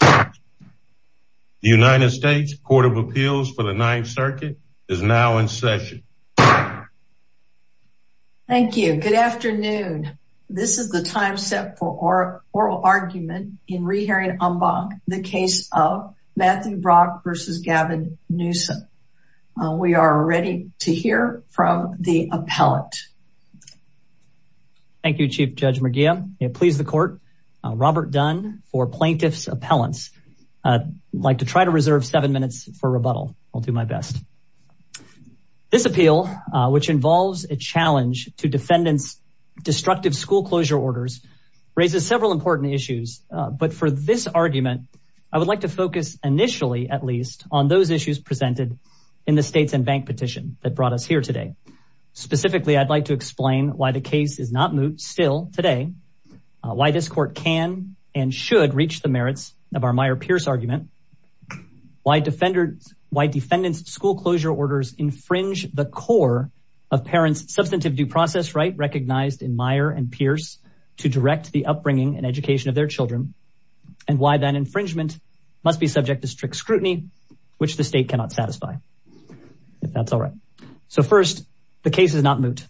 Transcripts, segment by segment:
The United States Court of Appeals for the Ninth Circuit is now in session. Thank you. Good afternoon. This is the time set for oral argument in re-hearing en banc the case of Matthew Brach v. Gavin Newsom. We are ready to hear from the appellate. Thank you, Chief Judge McGeehan. May it please the court. Robert Dunn for plaintiff's appellants. Like to try to reserve seven minutes for rebuttal. I'll do my best. This appeal, which involves a challenge to defendants' destructive school closure orders, raises several important issues. But for this argument, I would like to focus initially, at least, on those issues presented in the states and bank petition that brought us here today. Specifically, I'd like to explain why the case is not moot still today, why this court can and should reach the merits of our Meyer-Pierce argument, why defendants' school closure orders infringe the core of parents' substantive due process right recognized in Meyer and Pierce to direct the upbringing and education of their children, and why that infringement must be subject to strict scrutiny, which the state cannot satisfy, if that's all right. So first, the case is not moot.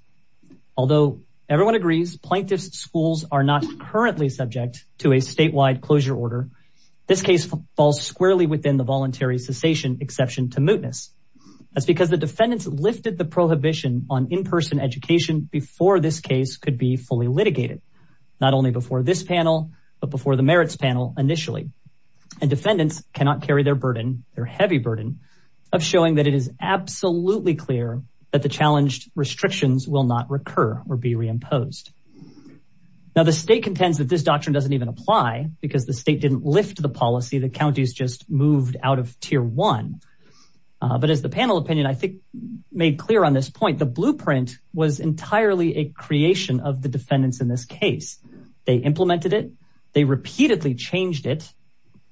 Although everyone agrees, plaintiff's schools are not currently subject to a statewide closure order, this case falls squarely within the voluntary cessation exception to mootness. That's because the defendants lifted the prohibition on in-person education before this case could be fully litigated, not only before this panel, but before the merits panel initially. And defendants cannot carry their burden, their heavy burden, of showing that it is absolutely clear that the challenged restrictions will not recur or be reimposed. Now, the state contends that this doctrine doesn't even apply because the state didn't lift the policy. The counties just moved out of tier one. But as the panel opinion, I think made clear on this point, the blueprint was entirely a creation of the defendants in this case. They implemented it. They repeatedly changed it.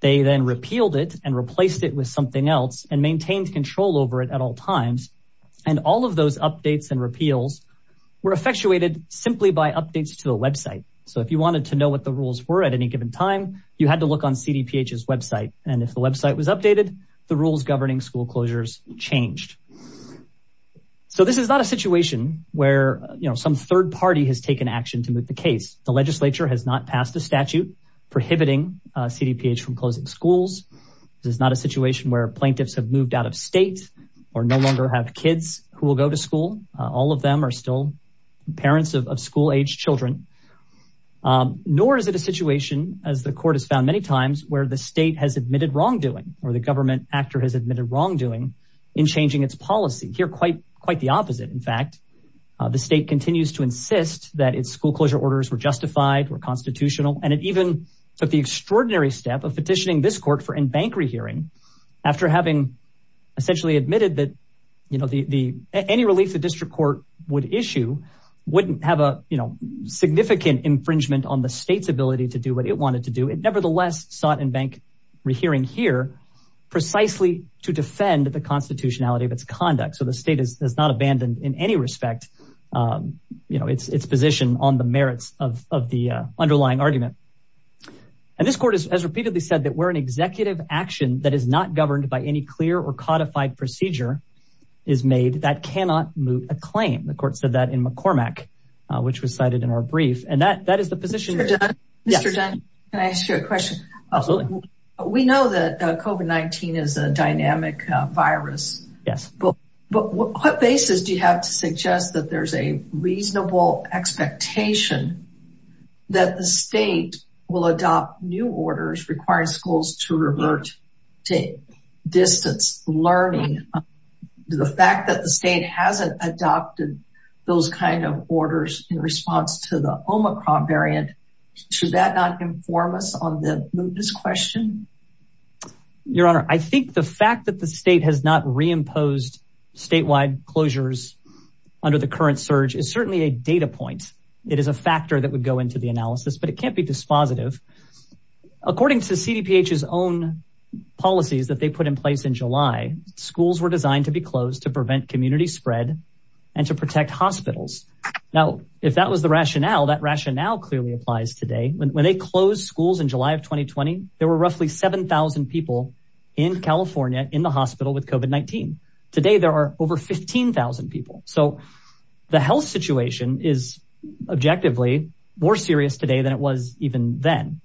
They then repealed it and replaced it with something else and maintained control over it at all times. And all of those updates and repeals were effectuated simply by updates to the website. So if you wanted to know what the rules were at any given time, you had to look on CDPH's website. And if the website was updated, the rules governing school closures changed. So this is not a situation where, you know, some third party has taken action to moot the case. The legislature has not passed a statute prohibiting CDPH from closing schools. This is not a situation where plaintiffs have moved out of state or no longer have kids who will go to school. All of them are still parents of school age children. Nor is it a situation, as the court has found many times, where the state has admitted wrongdoing or the government actor has admitted wrongdoing in changing its policy. Here, quite the opposite. In fact, the state continues to insist that its school closure orders were justified, were constitutional, and it even took the extraordinary step of petitioning this court for in-bank rehearing after having essentially admitted that, you know, any relief the district court would issue wouldn't have a, you know, significant infringement on the state's ability to do what it wanted to do. It nevertheless sought in-bank rehearing here precisely to defend the constitutionality of its conduct. So the state has not abandoned in any respect, you know, its position on the merits of the underlying argument. And this court has repeatedly said that where an executive action that is not governed by any clear or codified procedure is made, that cannot move a claim. The court said that in McCormack, which was cited in our brief. And that is the position. Mr. Dunn, can I ask you a question? Absolutely. We know that COVID-19 is a dynamic virus. Yes. But what basis do you have to suggest that there's a reasonable expectation that the state will adopt new orders, requiring schools to revert to distance learning? The fact that the state hasn't adopted those kinds of orders in response to the Omicron variant, should that not inform us on this question? Your Honor, I think the fact that the state has not reimposed statewide closures under the current surge is certainly a data point. It is a factor that would go into the analysis, but it can't be dispositive. According to CDPH's own policies that they put in place in July, schools were designed to be closed to prevent community spread and to protect hospitals. Now, if that was the rationale, that rationale clearly applies today. When they closed schools in July of 2020, there were roughly 7,000 people in California in the hospital with COVID-19. Today, there are over 15,000 people. So the health situation is objectively more serious today than it was even then.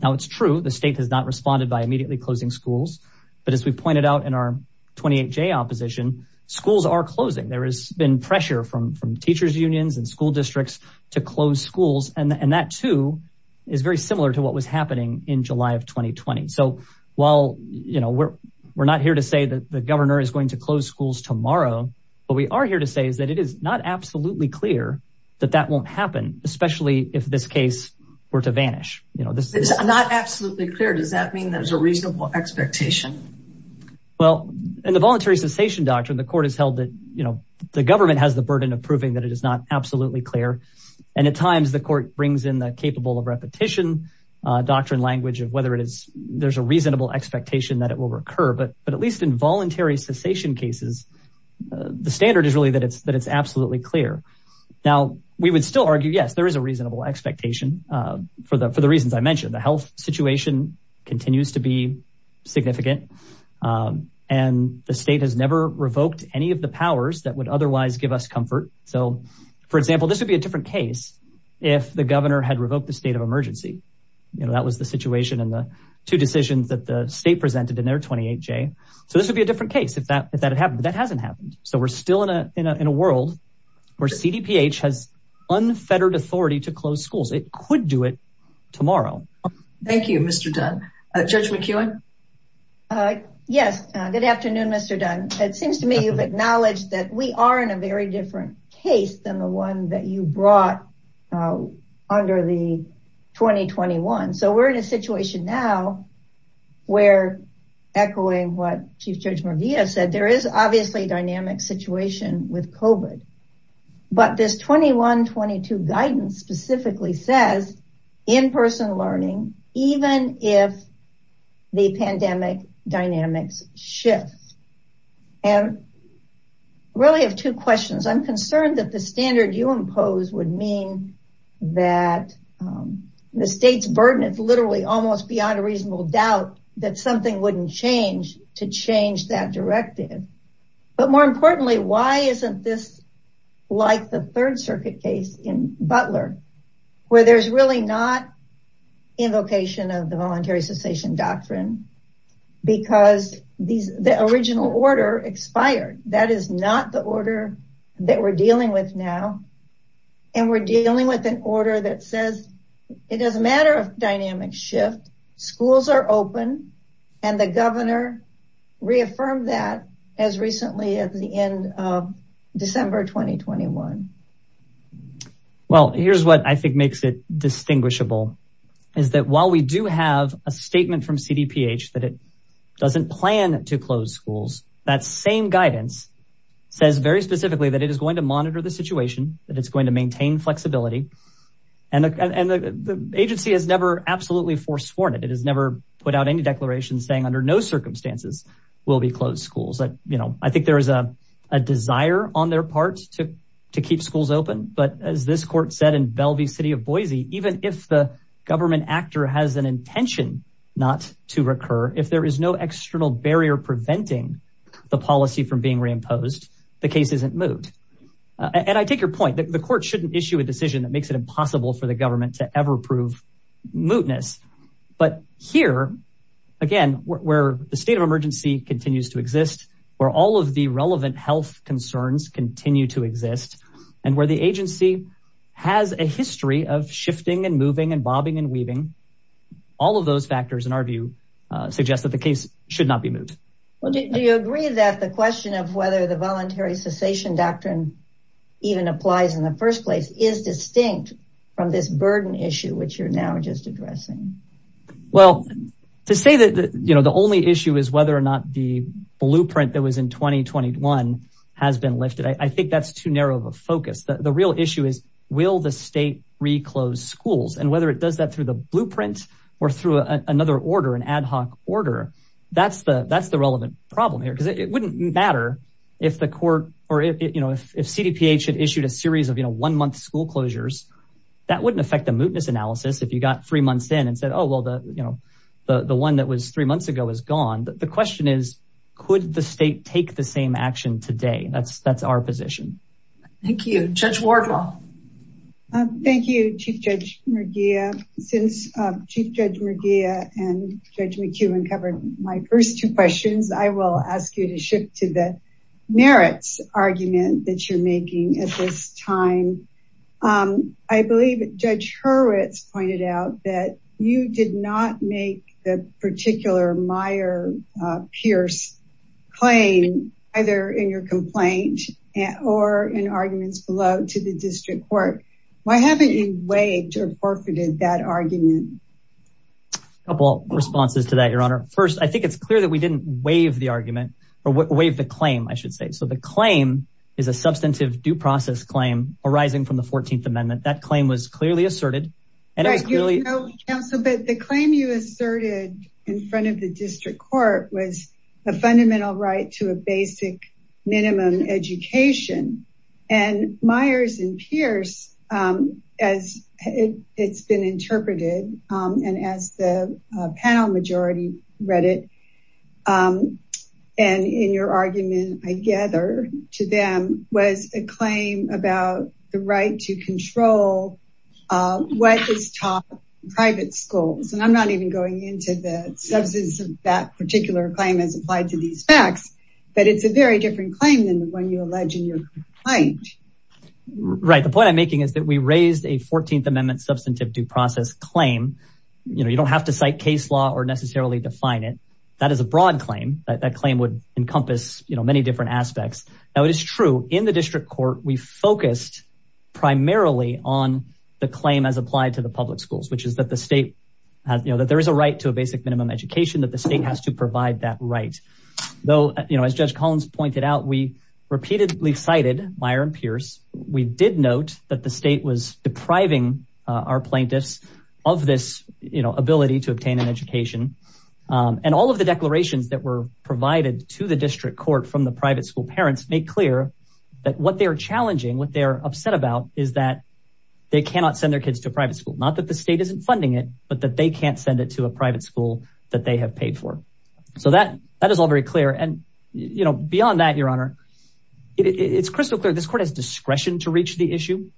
Now it's true, the state has not responded by immediately closing schools. But as we pointed out in our 28J opposition, schools are closing. There has been pressure from teachers unions and school districts to close schools. And that too is very similar to what was happening in July of 2020. So while, you know, we're not here to say that the governor is going to close schools tomorrow, what we are here to say is that it is not absolutely clear that that won't happen, especially if this case were to vanish. You know, this is not absolutely clear. Does that mean there's a reasonable expectation? Well, in the voluntary cessation doctrine, the court has held that, you know, the government has the burden of proving that it is not absolutely clear. And at times the court brings in the capable of repetition doctrine language of whether it is there's a reasonable expectation that it will recur. But at least in voluntary cessation cases, the standard is really that it's absolutely clear. Now we would still argue, yes, there is a reasonable expectation for the reasons I mentioned. The health situation continues to be significant. And the state has never revoked any of the powers that would otherwise give us comfort. So for example, this would be a different case if the governor had revoked the state of emergency. You know, that was the situation in the two decisions that the state presented in their 28-J. So this would be a different case if that if that had happened. But that hasn't happened. So we're still in a world where CDPH has unfettered authority to close schools. It could do it tomorrow. Thank you, Mr. Dunn. Judge McEwen? Yes. Good afternoon, Mr. Dunn. It seems to me you've acknowledged that we are in a very different case than the one that you brought under the 2021. So we're in a situation now where, echoing what Chief Judge Morvia said, there is obviously a dynamic situation with COVID. But this 21-22 guidance specifically says in-person learning, even if the pandemic dynamics shift. And I really have two questions. I'm concerned that the standard you impose would mean that the state's burden is literally almost beyond a reasonable doubt that something wouldn't change to change that directive. But more importantly, why isn't this like the Third Circuit case in Butler where there's really not invocation of the voluntary cessation doctrine because the original order expired? That is not the order that we're dealing with now. And we're dealing with an order that says it doesn't matter if dynamics shift, schools are open and the governor reaffirmed that as recently as the end of December 2021. Well, here's what I think makes it distinguishable is that while we do have a statement from CDPH that it doesn't plan to close schools, that same guidance says very specifically that it is going to monitor the situation, that it's going to maintain flexibility. And the agency has never absolutely forsworn it. It has never put out any declaration saying under no circumstances will be closed schools. I think there is a desire on their part to keep schools open. But as this court said in Bellevue City of Boise, even if the government actor has an to recur, if there is no external barrier preventing the policy from being reimposed, the case isn't moved. And I take your point that the court shouldn't issue a decision that makes it impossible for the government to ever prove mootness. But here, again, where the state of emergency continues to exist, where all of the relevant health concerns continue to exist, and where the agency has a history of shifting and moving and bobbing and weaving, all of those factors, in our view, suggest that the case should not be moved. Well, do you agree that the question of whether the voluntary cessation doctrine even applies in the first place is distinct from this burden issue, which you're now just addressing? Well, to say that, you know, the only issue is whether or not the blueprint that was in 2021 has been lifted. I think that's too narrow of a focus. The real issue is, will the state reclose schools? And whether it does that through the blueprint or through another order, an ad hoc order, that's the relevant problem here. Because it wouldn't matter if the court or if, you know, if CDPH had issued a series of, you know, one-month school closures, that wouldn't affect the mootness analysis if you got three months in and said, oh, well, you know, the one that was three months ago is gone. The question is, could the state take the same action today? That's our position. Thank you. Judge Wardwell. Thank you, Chief Judge Merguia. Since Chief Judge Merguia and Judge McEwen covered my first two questions, I will ask you to shift to the merits argument that you're making at this time. I believe Judge Hurwitz pointed out that you did not make the particular Meyer-Pierce claim either in your complaint or in arguments below to the district court. Why haven't you waived or forfeited that argument? A couple of responses to that, Your Honor. First, I think it's clear that we didn't waive the argument or waive the claim, I should say. So the claim is a substantive due process claim arising from the 14th Amendment. That claim was clearly asserted. Right, you know, counsel, but the claim you asserted in front of the district court was a fundamental right to a basic minimum education. And Myers and Pierce, as it's been interpreted, and as the panel majority read it, and in your argument, I gather, to them was a claim about the right to control what is taught in private schools. I'm not even going into the substance of that particular claim as applied to these facts, but it's a very different claim than the one you allege in your complaint. Right. The point I'm making is that we raised a 14th Amendment substantive due process claim. You know, you don't have to cite case law or necessarily define it. That is a broad claim. That claim would encompass, you know, many different aspects. Now, it is true in the district court, we focused primarily on the claim as applied to the public schools, which is that the state, you know, that there is a right to a basic minimum education, that the state has to provide that right. Though, you know, as Judge Collins pointed out, we repeatedly cited Myers and Pierce. We did note that the state was depriving our plaintiffs of this, you know, ability to obtain an education. And all of the declarations that were provided to the district court from the private school parents make clear that what they're challenging, what they're upset about is that they cannot send their kids to a private school. Not that the state isn't funding it, but that they can't send it to a private school that they have paid for. So that is all very clear. And, you know, beyond that, Your Honor, it's crystal clear. This court has discretion to reach the issue,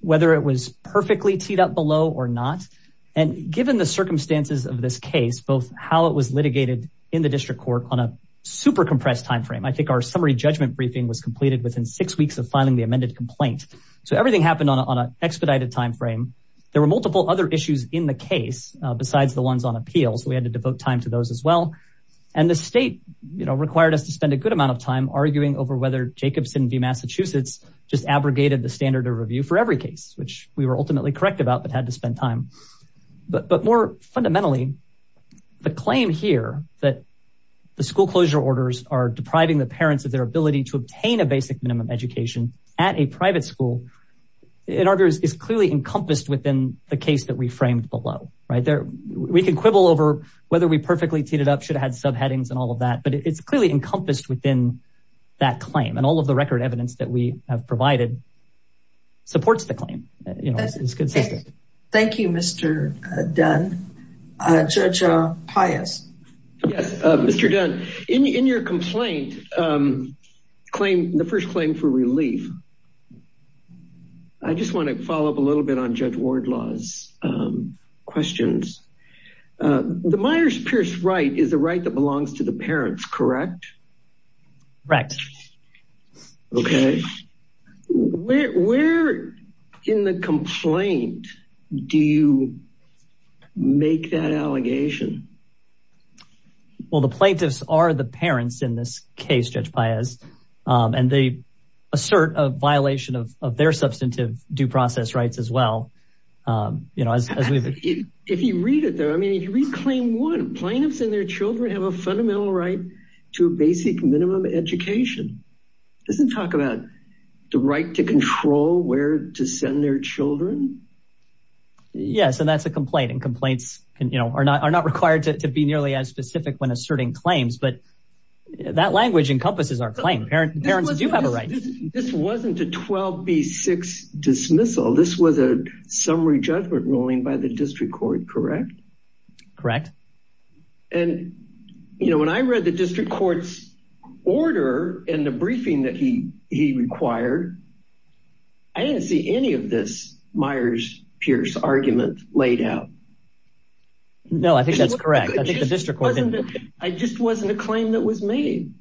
whether it was perfectly teed up below or not. And given the circumstances of this case, both how it was litigated in the district court on a super compressed timeframe, I think our summary judgment briefing was completed within six weeks of filing the amended complaint. So everything happened on an expedited timeframe. There were multiple other issues in the case besides the ones on appeals. We had to devote time to those as well. And the state, you know, required us to spend a good amount of time arguing over whether Jacobson v. Massachusetts just abrogated the standard of review for every case, which we were ultimately correct about, but had to spend time. But more fundamentally, the claim here that the school closure orders are depriving the school is clearly encompassed within the case that we framed below, right there. We can quibble over whether we perfectly teed it up, should have had subheadings and all of that, but it's clearly encompassed within that claim. And all of the record evidence that we have provided supports the claim. Thank you, Mr. Dunn. Judge Pius. Yes, Mr. Dunn, in your complaint, the first claim for relief, I just want to follow up a little bit on Judge Wardlaw's questions. The Myers Pierce right is the right that belongs to the parents, correct? Correct. Okay. Where in the complaint do you make that allegation? Well, the plaintiffs are the parents in this case, Judge Pius. And they assert a violation of their substantive due process rights as well. If you read it there, I mean, if you read claim one, plaintiffs and their children have a fundamental right to a basic minimum education. It doesn't talk about the right to control where to send their children. Yes, and that's a complaint. And complaints are not required to be nearly as specific when asserting claims. But that language encompasses our claim. Parents do have a right. This wasn't a 12B6 dismissal. This was a summary judgment ruling by the district court, correct? Correct. And, you know, when I read the district court's order and the briefing that he required, I didn't see any of this Myers Pierce argument laid out. No, I think that's correct. I think the district court didn't. It just wasn't a claim that was made.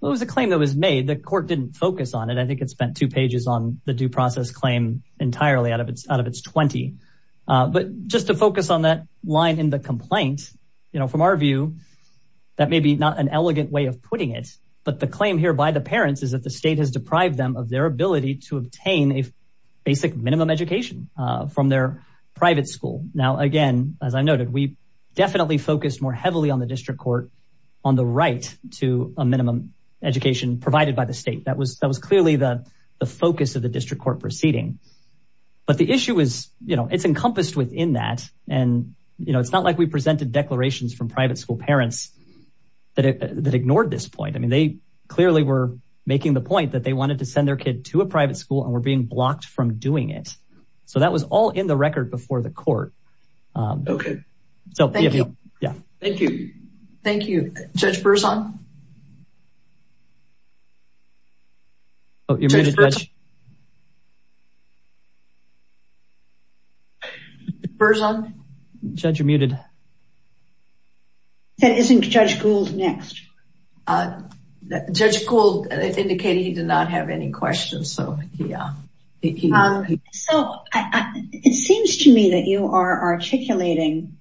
Well, it was a claim that was made. The court didn't focus on it. I think it spent two pages on the due process claim entirely out of its 20. But just to focus on that line in the complaint, you know, from our view, that may be not an elegant way of putting it. But the claim here by the parents is that the state has deprived them of their ability to obtain a basic minimum education from their private school. Now, again, as I noted, we definitely focused more heavily on the district court on the right to a minimum education provided by the state. That was clearly the focus of the district court proceeding. But the issue is, you know, it's encompassed within that. And, you know, it's not like we presented declarations from private school parents that ignored this point. I mean, they clearly were making the point that they wanted to send their kid to a private school and were being blocked from doing it. So that was all in the record before the court. OK, so thank you. Yeah, thank you. Thank you. Judge Berzon. Oh, you're muted, Judge. Berzon. Judge, you're muted. That isn't Judge Gould next. Judge Gould indicated he did not have any questions. So, yeah. Um, so it seems to me that you are articulating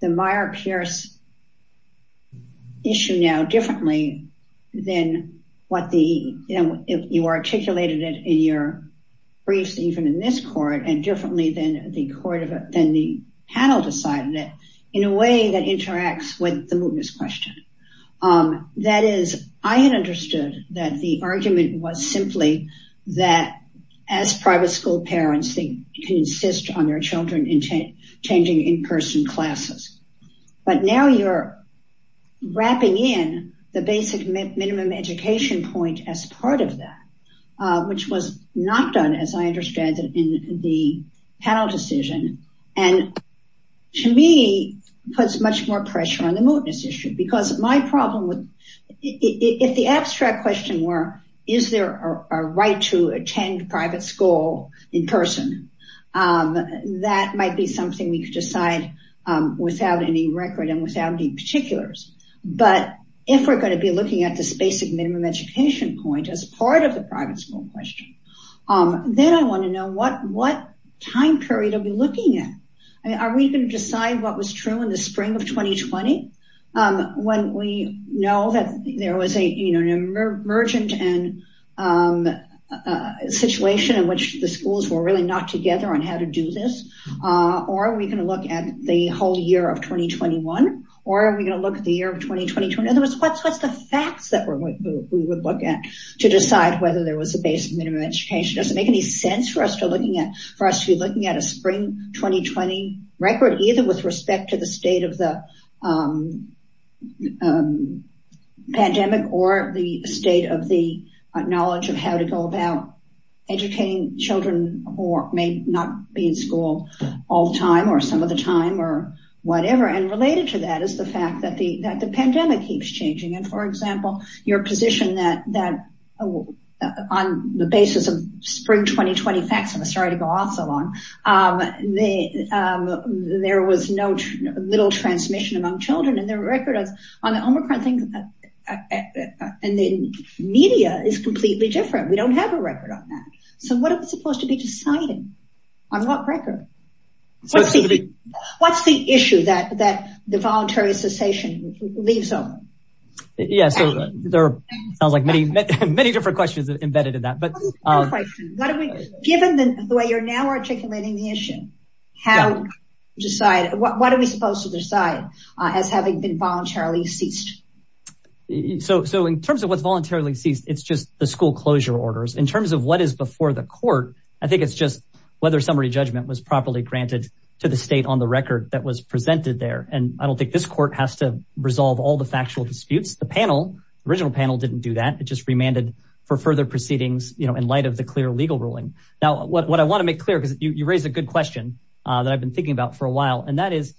the Meyer-Pierce issue now differently than what the, you know, you articulated it in your briefs, even in this court, and differently than the court, than the panel decided it in a way that interacts with the mootness question. Um, that is, I had understood that the argument was simply that as private school parents, they can insist on their children in changing in-person classes. But now you're wrapping in the basic minimum education point as part of that, which was not done, as I understand it, in the panel decision. And to me, it puts much more pressure on the mootness issue. Because my problem with, if the abstract question were, is there a right to attend private school in person, that might be something we could decide without any record and without any particulars. But if we're going to be looking at this basic minimum education point as part of the private school question, then I want to know what time period are we looking at? I mean, are we going to decide what was true in the spring of 2020? When we know that there was an emergent situation in which the schools were really knocked together on how to do this? Or are we going to look at the whole year of 2021? Or are we going to look at the year of 2020? In other words, what's the facts that we would look at to decide whether there was a basic minimum education? Does it make any sense for us to be at a spring 2020 record, either with respect to the state of the pandemic, or the state of the knowledge of how to go about educating children, or may not be in school all the time, or some of the time, or whatever. And related to that is the fact that the pandemic keeps changing. And for example, your position that on the basis of spring 2020 facts, I'm sorry to go on so long, there was no little transmission among children and their record on the Omicron thing. And the media is completely different. We don't have a record on that. So what is supposed to be decided on what record? What's the issue that the voluntary cessation leaves on? Yeah, so there are many different questions embedded in that. Given the way you're now articulating the issue, what are we supposed to decide as having been voluntarily ceased? So in terms of what's voluntarily ceased, it's just the school closure orders. In terms of what is before the court, I think it's just whether summary judgment was properly granted to the resolve all the factual disputes. The original panel didn't do that. It just remanded for further proceedings in light of the clear legal ruling. Now, what I want to make clear, because you raised a good question that I've been thinking about for a while, and that is,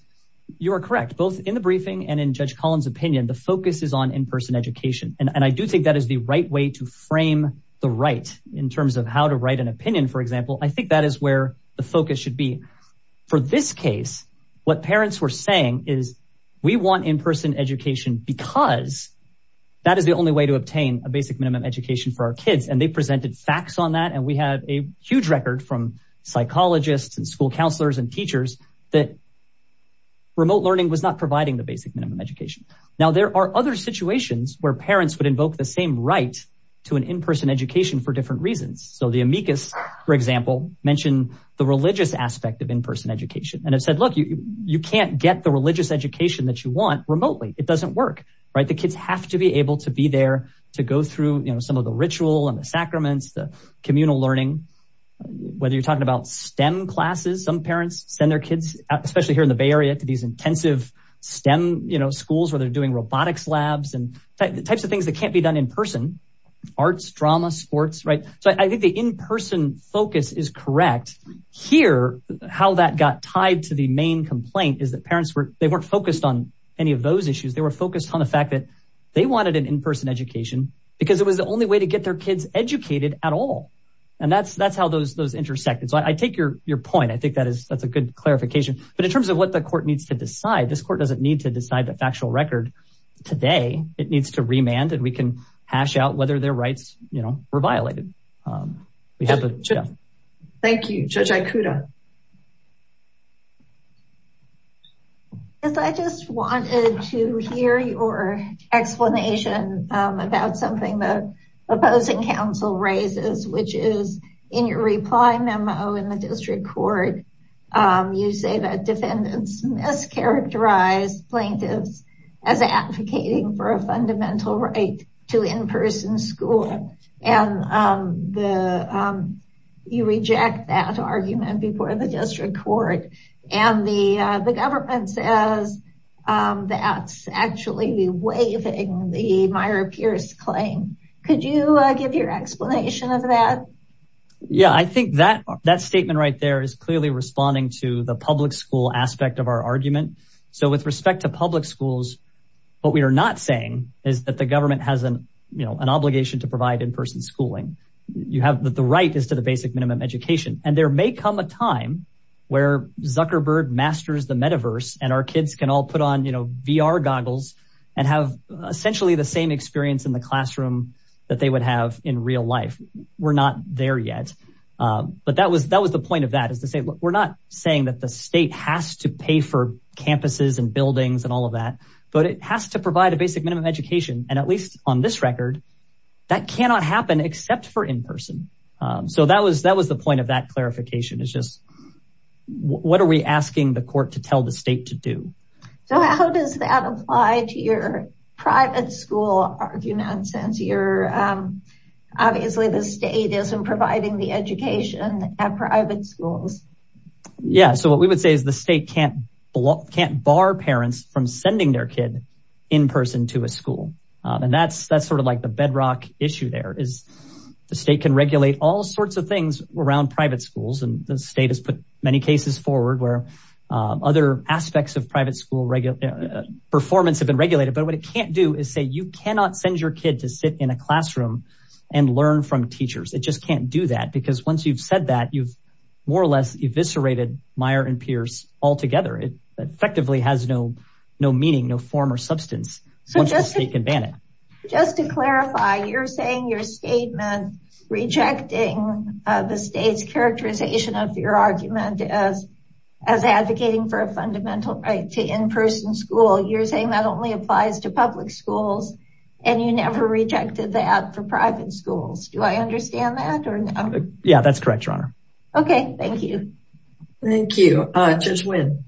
you are correct, both in the briefing and in Judge Collins' opinion, the focus is on in-person education. And I do think that is the right way to frame the right in terms of how to write an opinion, for example. I think that is where the focus should be. For this case, what parents were saying is, we want in-person education because that is the only way to obtain a basic minimum education for our kids. And they presented facts on that. And we have a huge record from psychologists and school counselors and teachers that remote learning was not providing the basic minimum education. Now, there are other situations where parents would invoke the same right to an in-person education for different reasons. So the amicus, for example, mentioned the religious aspect of in-person education. And it said, look, you can't get the religious education that you want remotely. It doesn't work. The kids have to be able to be there to go through some of the ritual and the sacraments, the communal learning. Whether you're talking about STEM classes, some parents send their kids, especially here in the Bay Area, to these intensive STEM schools where they're doing robotics labs and types of things that can't be done in person, arts, drama, sports. So I think the in-person focus is correct. Here, how that got tied to the main complaint is that parents weren't focused on any of those issues. They were focused on the fact that they wanted an in-person education because it was the only way to get their kids educated at all. And that's how those intersected. So I take your point. I think that's a good clarification. But in terms of what the court needs to decide, this court doesn't need to decide a factual record today. It needs to remand, and we can hash out whether their rights were violated. Thank you. Judge Aikuda. Yes, I just wanted to hear your explanation about something the opposing counsel raises, which is in your reply memo in the district court, you say that defendants mischaracterize plaintiffs as advocating for a fundamental right to in-person school. And you reject that argument before the district court. And the government says that's actually waiving the Meyer-Pierce claim. Could you give your explanation of that? Yeah, I think that statement right there is clearly responding to the public school aspect of our argument. So with respect to public schools, what we are not saying is that the government has an obligation to provide in-person schooling. You have the right is to the basic minimum education. And there may come a time where Zuckerberg masters the metaverse and our kids can all put on VR goggles and have essentially the same experience in the classroom that they would have in real life. We're not there yet. But that was the point of that is to say, we're not saying that the state has to pay for campuses and buildings and all of that, but it has to provide a basic minimum education. And at least on this record, that cannot happen except for in-person. So that was the point of that clarification is just what are we asking the court to tell the state to do? So how does that apply to private school arguments? Obviously the state isn't providing the education at private schools. Yeah, so what we would say is the state can't bar parents from sending their kid in-person to a school. And that's sort of like the bedrock issue there is the state can regulate all sorts of things around private schools. And the state has put many cases forward where other aspects of private school performance have been regulated. But what it can't do is say, you cannot send your kid to sit in a classroom and learn from teachers. It just can't do that because once you've said that you've more or less eviscerated Meyer and Pierce altogether. It effectively has no meaning, no form or substance. So just to clarify, you're saying your statement rejecting the state's characterization of your argument as advocating for a fundamental right to in-person school. You're saying that only applies to public schools and you never rejected that for private schools. Do I understand that or not? Yeah, that's correct, your honor. Okay, thank you. Thank you. Judge Wynn.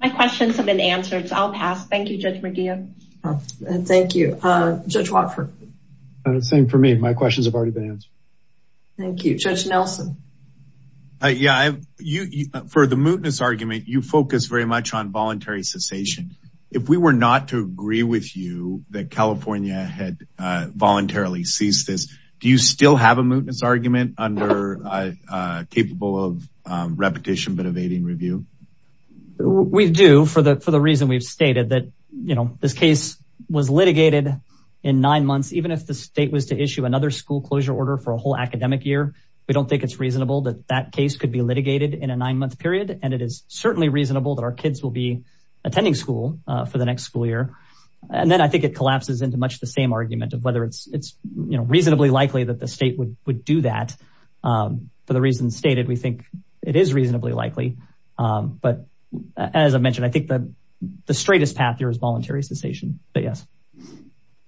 My questions have been answered, so I'll pass. Thank you, I've already been answered. Thank you. Judge Nelson. Yeah, for the mootness argument, you focus very much on voluntary cessation. If we were not to agree with you that California had voluntarily ceased this, do you still have a mootness argument under capable of repetition but evading review? We do for the reason we've stated that this case was litigated in nine whole academic year. We don't think it's reasonable that that case could be litigated in a nine month period. And it is certainly reasonable that our kids will be attending school for the next school year. And then I think it collapses into much the same argument of whether it's reasonably likely that the state would do that. For the reasons stated, we think it is reasonably likely. But as I mentioned, I think the straightest path here is voluntary cessation.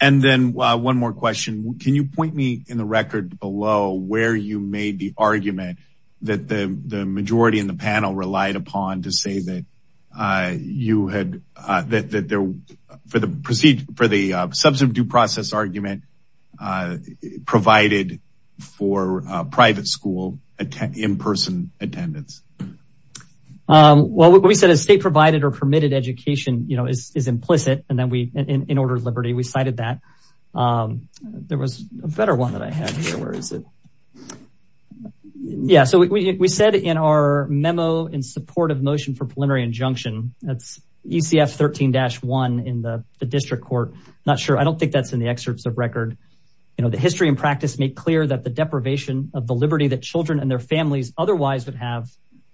And then one more question. Can you point me in the record below where you made the argument that the majority in the panel relied upon to say that for the substantive due process argument provided for private school in-person attendance? Well, what we said is state provided or permitted education is implicit. And then we in order of liberty, we cited that. There was a better one that I had here. Where is it? Yeah. So we said in our memo in support of motion for preliminary injunction, that's ECF 13-1 in the district court. Not sure. I don't think that's in the excerpts of record. The history and practice make clear that the deprivation of the liberty that children and their families otherwise would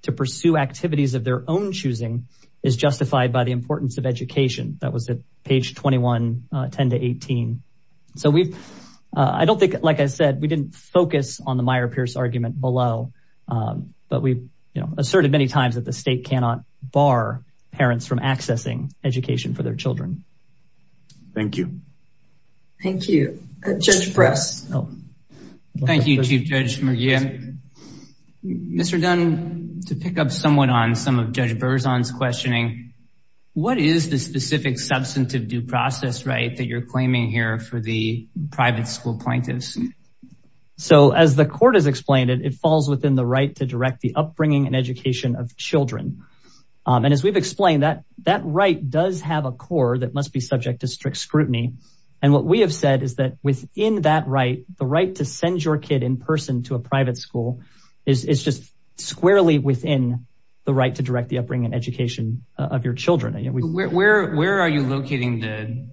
to pursue activities of their own choosing is justified by the importance of education. That was at page 21, 10 to 18. So I don't think, like I said, we didn't focus on the Meyer-Pierce argument below, but we asserted many times that the state cannot bar parents from accessing education for their children. Thank you, Chief Judge McGeehan. Mr. Dunn, to pick up somewhat on some of Judge Berzon's questioning, what is the specific substantive due process right that you're claiming here for the private school plaintiffs? So as the court has explained it, it falls within the right to direct the upbringing and education of children. And as we've explained, that right does have a core that must be subject to strict scrutiny. And what we have said is that within that right, the right to send your kid in person to a private school is just squarely within the right to direct the upbringing and education of your children. Where are you locating the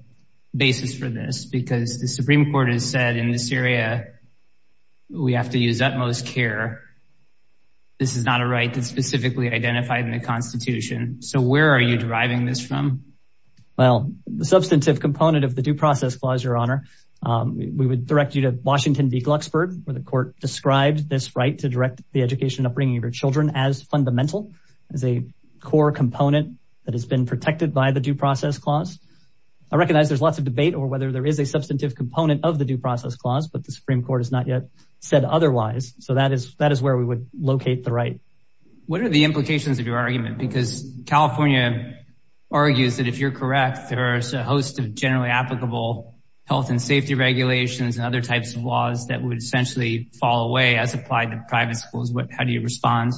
basis for this? Because the Supreme Court has said in this area, we have to use utmost care. This is not a right that's specifically identified in the Constitution. So where are you deriving this from? Well, the substantive component of the due process clause, Your Honor, we would direct you to Washington v. Glucksburg, where the court described this right to direct the education and upbringing of your children as fundamental, as a core component that has been protected by the due process clause. I recognize there's lots of debate over whether there is a substantive component of the due process clause, but the Supreme Court has not yet said otherwise. So that is where we would locate the right. What are the implications of your argument? Because California argues that if you're correct, there's a host of generally applicable health and safety regulations and other types of laws that would essentially fall away as applied to private schools. How do you respond?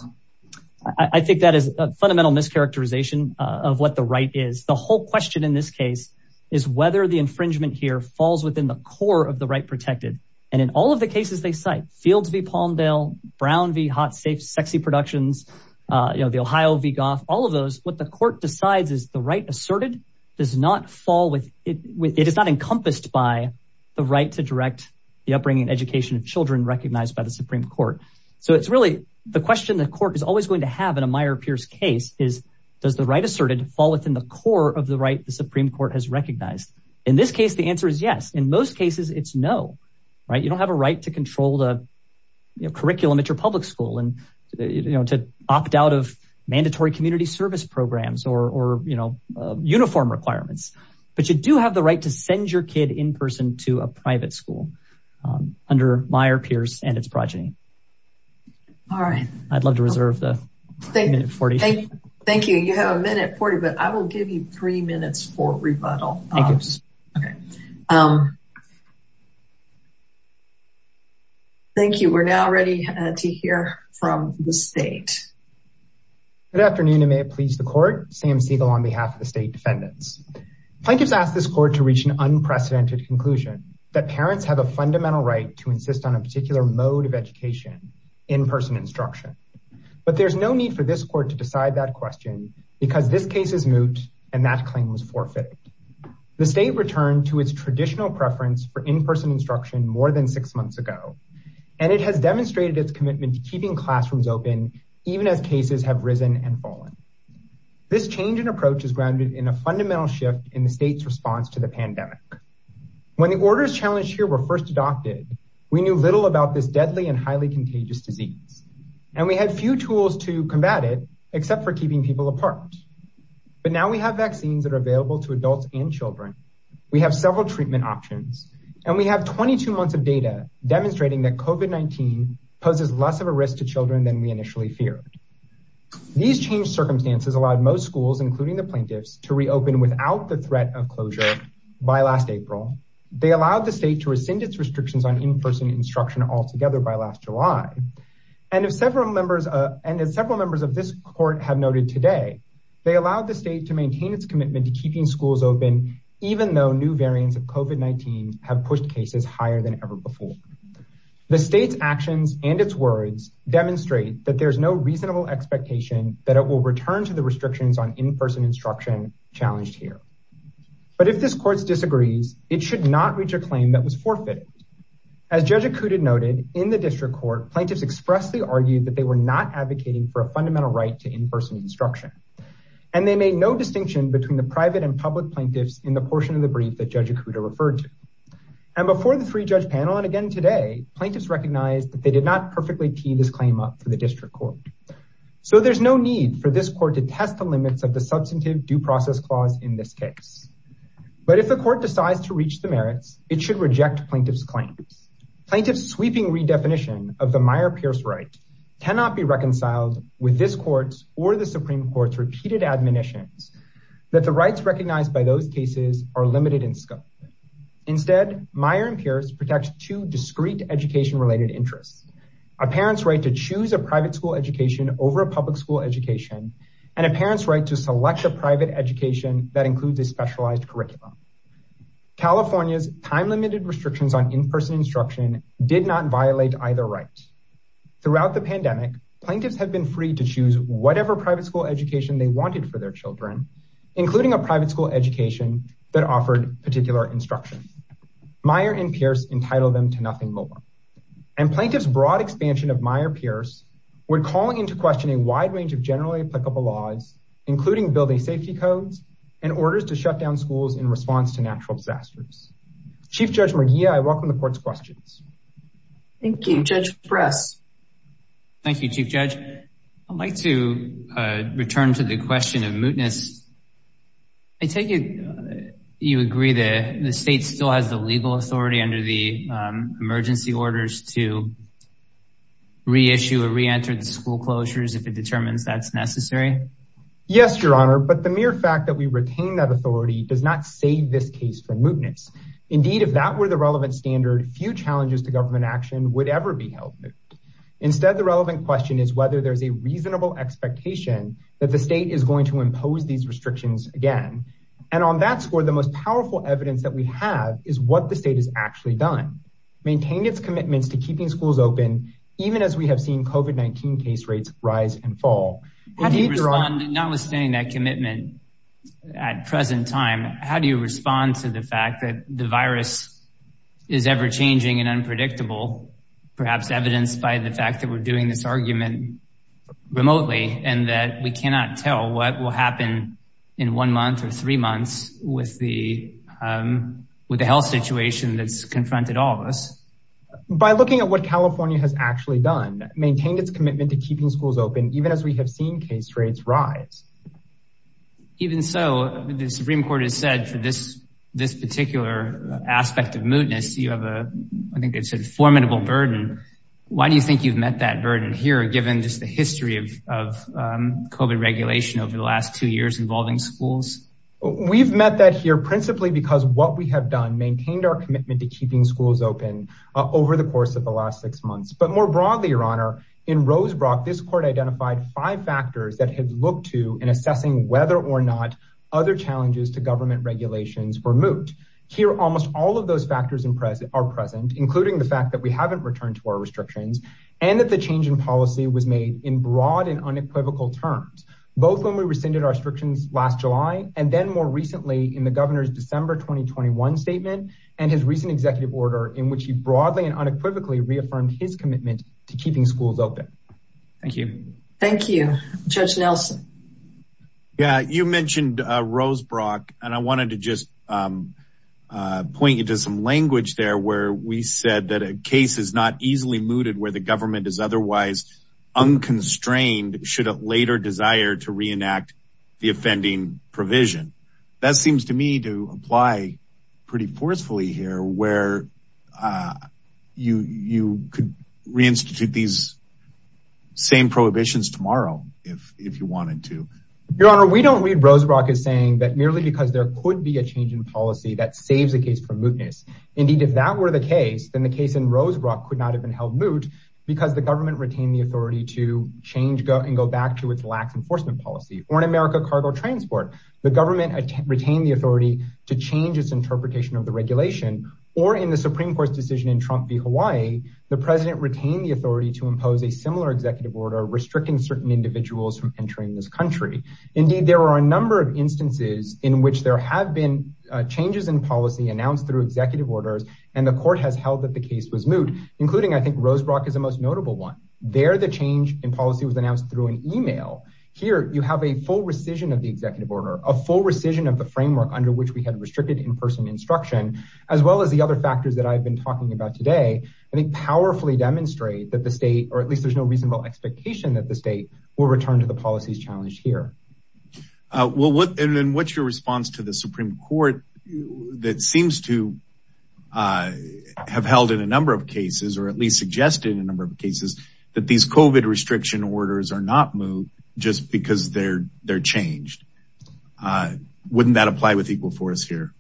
I think that is a fundamental mischaracterization of what the right is. The whole question in this case is whether the infringement here falls within the core of the right protected. And in all of the cases they cite, Fields v. Palmdale, Brown v. Hot Safe Sexy Productions, the Ohio v. Goff, all of those, what the court decides is the right asserted does not fall with, it is not encompassed by the right to direct the upbringing and education of children recognized by the Supreme Court. So it's really the question the court is always going to have in a Meyer-Pierce case is, does the right asserted fall within the core of the right the Supreme Court has recognized? In this case, the answer is yes. In most cases, it's no. You don't have a right to control the curriculum at your public school and to opt out of mandatory community service programs or uniform requirements. But you do have the right to send your kid in person to a private school under Meyer-Pierce and its progeny. All right. I'd love to reserve the minute 40. Thank you. You have a minute 40, but I will give you three minutes for rebuttal. Thank you. We're now ready to hear from the state. Good afternoon, and may it please the court. Sam Siegel on behalf of the state defendants. Plaintiffs asked this court to reach an unprecedented conclusion that parents have a fundamental right to insist on a particular mode of education, in-person instruction. But there's no need for this court to decide that question because this case is moot and that claim was forfeited. The state returned to its traditional preference for in-person instruction more than six even as cases have risen and fallen. This change in approach is grounded in a fundamental shift in the state's response to the pandemic. When the orders challenged here were first adopted, we knew little about this deadly and highly contagious disease, and we had few tools to combat it except for keeping people apart. But now we have vaccines that are available to adults and children. We have several treatment options, and we have 22 months of data demonstrating that COVID-19 poses less of a risk to children than we initially feared. These changed circumstances allowed most schools, including the plaintiffs, to reopen without the threat of closure by last April. They allowed the state to rescind its restrictions on in-person instruction altogether by last July. And as several members of this court have noted today, they allowed the state to maintain its commitment to keeping schools open even though new variants have pushed cases higher than ever before. The state's actions and its words demonstrate that there's no reasonable expectation that it will return to the restrictions on in-person instruction challenged here. But if this court disagrees, it should not reach a claim that was forfeited. As Judge Acuda noted, in the district court, plaintiffs expressly argued that they were not advocating for a fundamental right to in-person instruction, and they made no distinction between the private and public plaintiffs in the portion of the brief that Judge Acuda referred to. And before the three-judge panel, and again today, plaintiffs recognized that they did not perfectly tee this claim up for the district court. So there's no need for this court to test the limits of the substantive due process clause in this case. But if the court decides to reach the merits, it should reject plaintiffs' claims. Plaintiffs' sweeping redefinition of the Meyer-Pierce right cannot be reconciled with this court's or the Supreme Court's repeated admonitions that the rights recognized by those cases are limited in scope. Instead, Meyer-Pierce protects two discrete education-related interests, a parent's right to choose a private school education over a public school education, and a parent's right to select a private education that includes a specialized curriculum. California's time-limited restrictions on in-person instruction did not violate either right. Throughout the pandemic, plaintiffs have been free to choose whatever school education they wanted for their children, including a private school education that offered particular instruction. Meyer and Pierce entitled them to nothing more. And plaintiffs' broad expansion of Meyer-Pierce would call into question a wide range of generally applicable laws, including building safety codes and orders to shut down schools in response to natural disasters. Chief Judge Murguia, I welcome the court's questions. Thank you. Judge Press. Thank you, Chief Judge. I'd like to return to the question of mootness. I take it you agree that the state still has the legal authority under the emergency orders to reissue or re-enter the school closures if it determines that's necessary? Yes, Your Honor, but the mere fact that we retain that authority does not save this case from few challenges to government action would ever be held moot. Instead, the relevant question is whether there's a reasonable expectation that the state is going to impose these restrictions again. And on that score, the most powerful evidence that we have is what the state has actually done, maintained its commitments to keeping schools open, even as we have seen COVID-19 case rates rise and fall. How do you respond, notwithstanding that commitment at present time, how do you is ever-changing and unpredictable, perhaps evidenced by the fact that we're doing this argument remotely and that we cannot tell what will happen in one month or three months with the health situation that's confronted all of us? By looking at what California has actually done, maintained its commitment to keeping schools open, even as we have seen case rates rise. Even so, the Supreme Court has said for this particular aspect of mootness, you have a, I think it's a formidable burden. Why do you think you've met that burden here, given just the history of COVID regulation over the last two years involving schools? We've met that here principally because what we have done, maintained our commitment to keeping schools open over the course of the last six months. But more broadly, Your Honor, in Rosebrook, this court identified five factors that had looked to in assessing whether or not other challenges to government regulations were moot. Here, almost all of those factors are present, including the fact that we haven't returned to our restrictions and that the change in policy was made in broad and unequivocal terms, both when we rescinded our restrictions last July and then more recently in the governor's December 2021 statement and his recent executive order in which he broadly and unequivocally reaffirmed his commitment to keeping schools open. Thank you. Thank you. Judge Nelson. Yeah, you mentioned Rosebrook, and I wanted to just point you to some language there where we said that a case is not easily mooted where the government is otherwise unconstrained should it later desire to reenact the offending provision. That seems to me to apply pretty forcefully here where you could reinstitute these same prohibitions tomorrow if you wanted to. Your Honor, we don't read Rosebrook as saying that merely because there could be a change in policy that saves a case from mootness. Indeed, if that were the case, then the case in Rosebrook could not have been held moot because the government retained the authority to change and go back to its lax enforcement policy. Or in America, cargo transport. The government retained the authority to change its interpretation of the regulation. Or in the Supreme Court's decision in Trump v. Hawaii, the president retained the authority to impose a similar executive order restricting certain individuals from entering this country. Indeed, there are a number of instances in which there have been changes in policy announced through executive orders, and the court has held that the case was moot, including I think Rosebrook is the most notable one. There, the change in policy was announced through an email. Here, you have a full rescission of the executive under which we had restricted in-person instruction, as well as the other factors that I've been talking about today. I think powerfully demonstrate that the state, or at least there's no reasonable expectation that the state, will return to the policies challenged here. Well, what's your response to the Supreme Court that seems to have held in a number of cases, or at least suggested in a number of cases, that these COVID restriction orders are not moot just because they're changed? Wouldn't that apply with Equal Force here?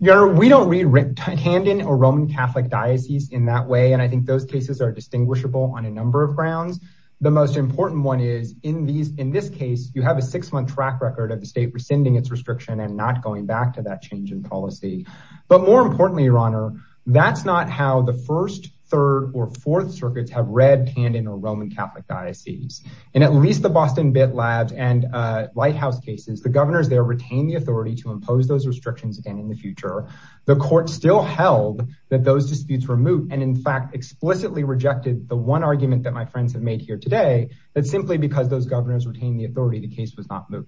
We don't read Camden or Roman Catholic Diocese in that way, and I think those cases are distinguishable on a number of grounds. The most important one is, in this case, you have a six-month track record of the state rescinding its restriction and not going back to that change in policy. But more importantly, your honor, that's not how the First, Third, or Fourth Circuits have read Camden or Roman Catholic Diocese. In at least the Boston Bit Labs and Lighthouse cases, the governors there retained the authority to impose those restrictions again in the future. The court still held that those disputes were moot, and in fact, explicitly rejected the one argument that my friends have made here today, that simply because those governors retained the authority, the case was not moot.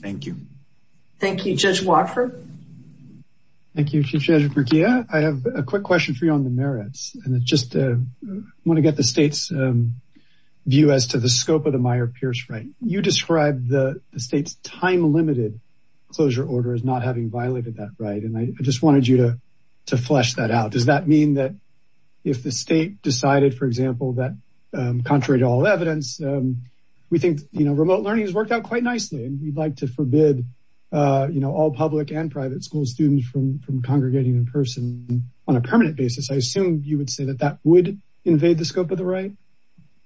Thank you. Thank you. Judge Watford? Thank you, Chief Judge Burkia. I have a quick question for you on the merits, and I just want to get the state's view as to the scope of the Meyer-Pierce right. You described the state's time-limited closure order as not having violated that right, and I just wanted you to flesh that out. Does that mean that if the state decided, for example, that, contrary to all evidence, we think remote learning has worked out quite nicely, and we'd like to forbid all public and private school students from congregating in person on a permanent basis, I assume you would say that that would invade the scope of the right?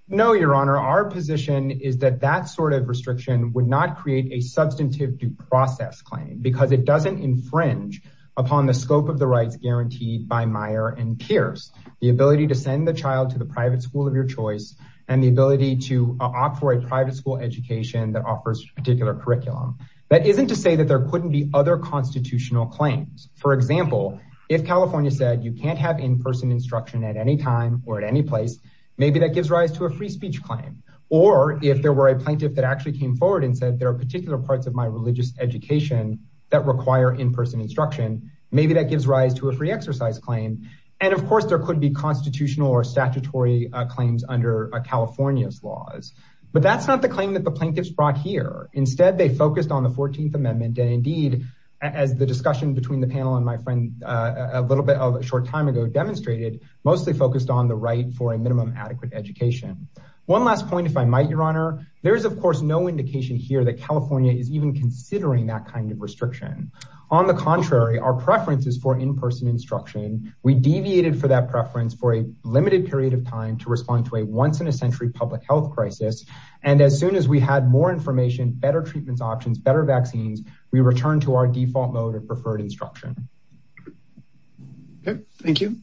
No, Your Honor. Our position is that that sort of restriction would not create a substantive due process claim, because it doesn't infringe upon the scope of the rights guaranteed by Meyer and Pierce. The ability to send the child to the private school of your choice, and the ability to opt for a private school education that offers a particular curriculum, that isn't to say that there couldn't be other constitutional claims. For example, if California said you can't have in-person instruction at any time or at any place, maybe that gives rise to a free speech claim. Or if there were a plaintiff that actually came forward and said there are particular parts of my religious education that require in-person instruction, maybe that gives rise to a free exercise claim. And of course, there could be or statutory claims under California's laws. But that's not the claim that the plaintiffs brought here. Instead, they focused on the 14th Amendment. And indeed, as the discussion between the panel and my friend a little bit of a short time ago demonstrated, mostly focused on the right for a minimum adequate education. One last point, if I might, Your Honor, there is, of course, no indication here that California is even considering that kind of restriction. On the contrary, our preferences for in-person instruction, we deviated for that preference for a limited period of time to respond to a once-in-a-century public health crisis. And as soon as we had more information, better treatments options, better vaccines, we returned to our default mode of preferred instruction. Thank you.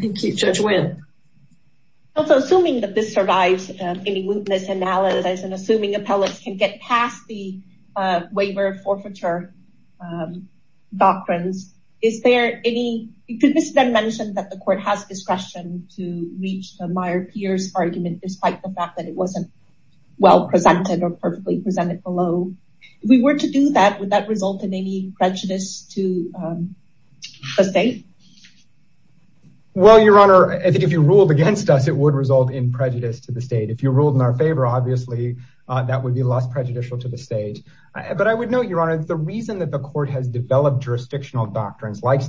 Thank you, Judge Nguyen. Also, assuming that this survives any witness analysis and assuming appellants can get past the to reach the Meyer-Pierce argument, despite the fact that it wasn't well presented or perfectly presented below, if we were to do that, would that result in any prejudice to the state? Well, Your Honor, I think if you ruled against us, it would result in prejudice to the state. If you ruled in our favor, obviously, that would be less prejudicial to the state. But I would note, Your Honor, the reason that the court has developed jurisdictional doctrines like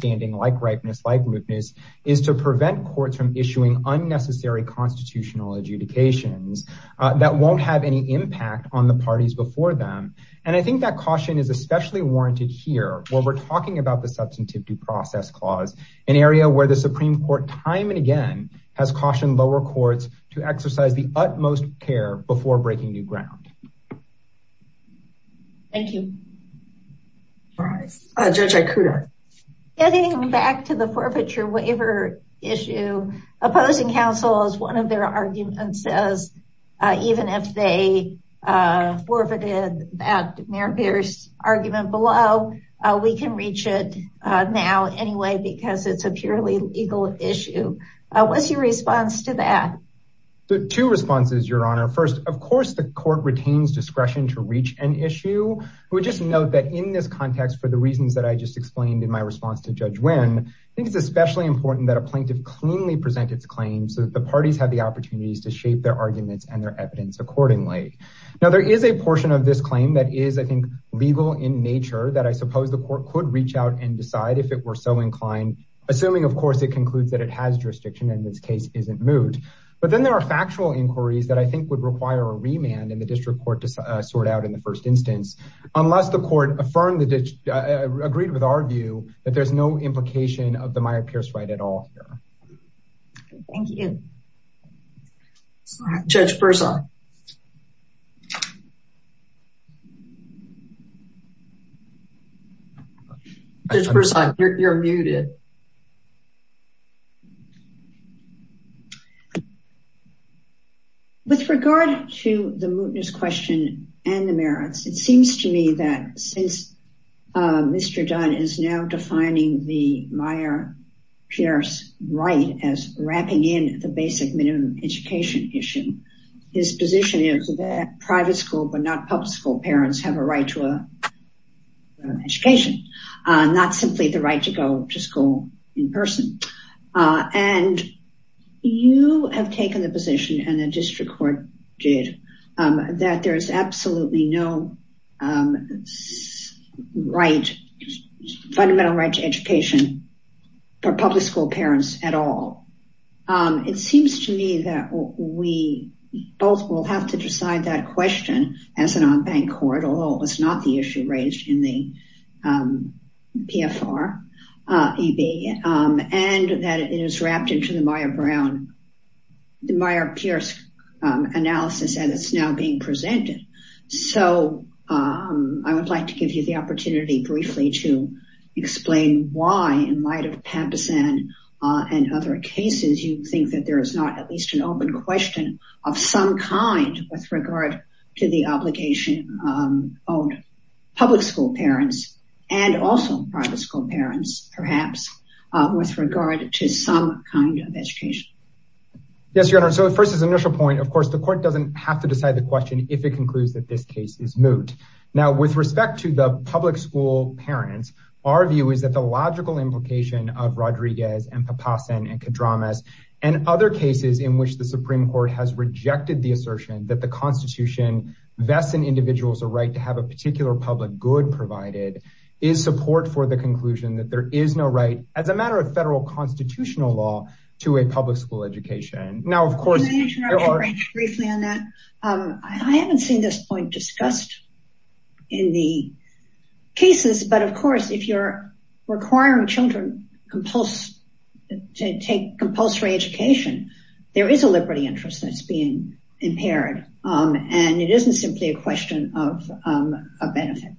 from issuing unnecessary constitutional adjudications that won't have any impact on the parties before them. And I think that caution is especially warranted here, where we're talking about the Substantive Due Process Clause, an area where the Supreme Court time and again has cautioned lower courts to exercise the utmost care before breaking new ground. Thank you. All right, Judge Ikuda. Getting back to the forfeiture waiver issue, opposing counsel, as one of their arguments says, even if they forfeited that Meyer-Pierce argument below, we can reach it now anyway, because it's a purely legal issue. What's your response to that? There are two responses, Your Honor. First, of course, the court retains discretion to reach an issue. I would just note that in this context, for the reasons that I just explained in my response to Judge Wynn, I think it's especially important that a plaintiff cleanly present its claims so that the parties have the opportunities to shape their arguments and their evidence accordingly. Now, there is a portion of this claim that is, I think, legal in nature that I suppose the court could reach out and decide if it were so inclined, assuming, of course, it concludes that it has jurisdiction and this case isn't moot. But then there are factual inquiries that I think would require a remand in the district court to sort out in the first instance, unless the court agreed with our view that there's no implication of the Meyer-Pierce right at all here. Thank you. Judge Burson. Judge Burson, you're muted. With regard to the mootness question and the merits, it seems to me that since Mr. Dunn is now defining the Meyer-Pierce right as wrapping in the basic minimum education issue, his position is that private school but not public school parents have a right to an education, not simply the right to go to school in person. And you have taken the position, and the district court did, that there's absolutely no fundamental right to education for public school parents at all. It seems to me that we both will have to decide that question as an on-bank court, although it was not the issue raised in the PFR-EB, and that it is wrapped into the Meyer-Pierce analysis, and it's now being presented. So I would like to give you the opportunity briefly to explain why, in light of Pampasan and other cases, you think that there is not at least an open question of some kind with regard to the obligation of public school parents, and also private school parents, perhaps, with regard to some kind of education. Yes, Your Honor, so first as initial point, of course, the court doesn't have to decide the question if it concludes that this case is moot. Now, with respect to the public school parents, our view is that the logical implication of Rodriguez and Pampasan and Kadramas, and other cases in which the Supreme Court has rejected the assertion that the Constitution vests an individual's right to have a particular public good provided, is support for the education. Now, of course, I haven't seen this point discussed in the cases, but of course, if you're requiring children to take compulsory education, there is a liberty interest that's being impaired, and it isn't simply a question of a benefit.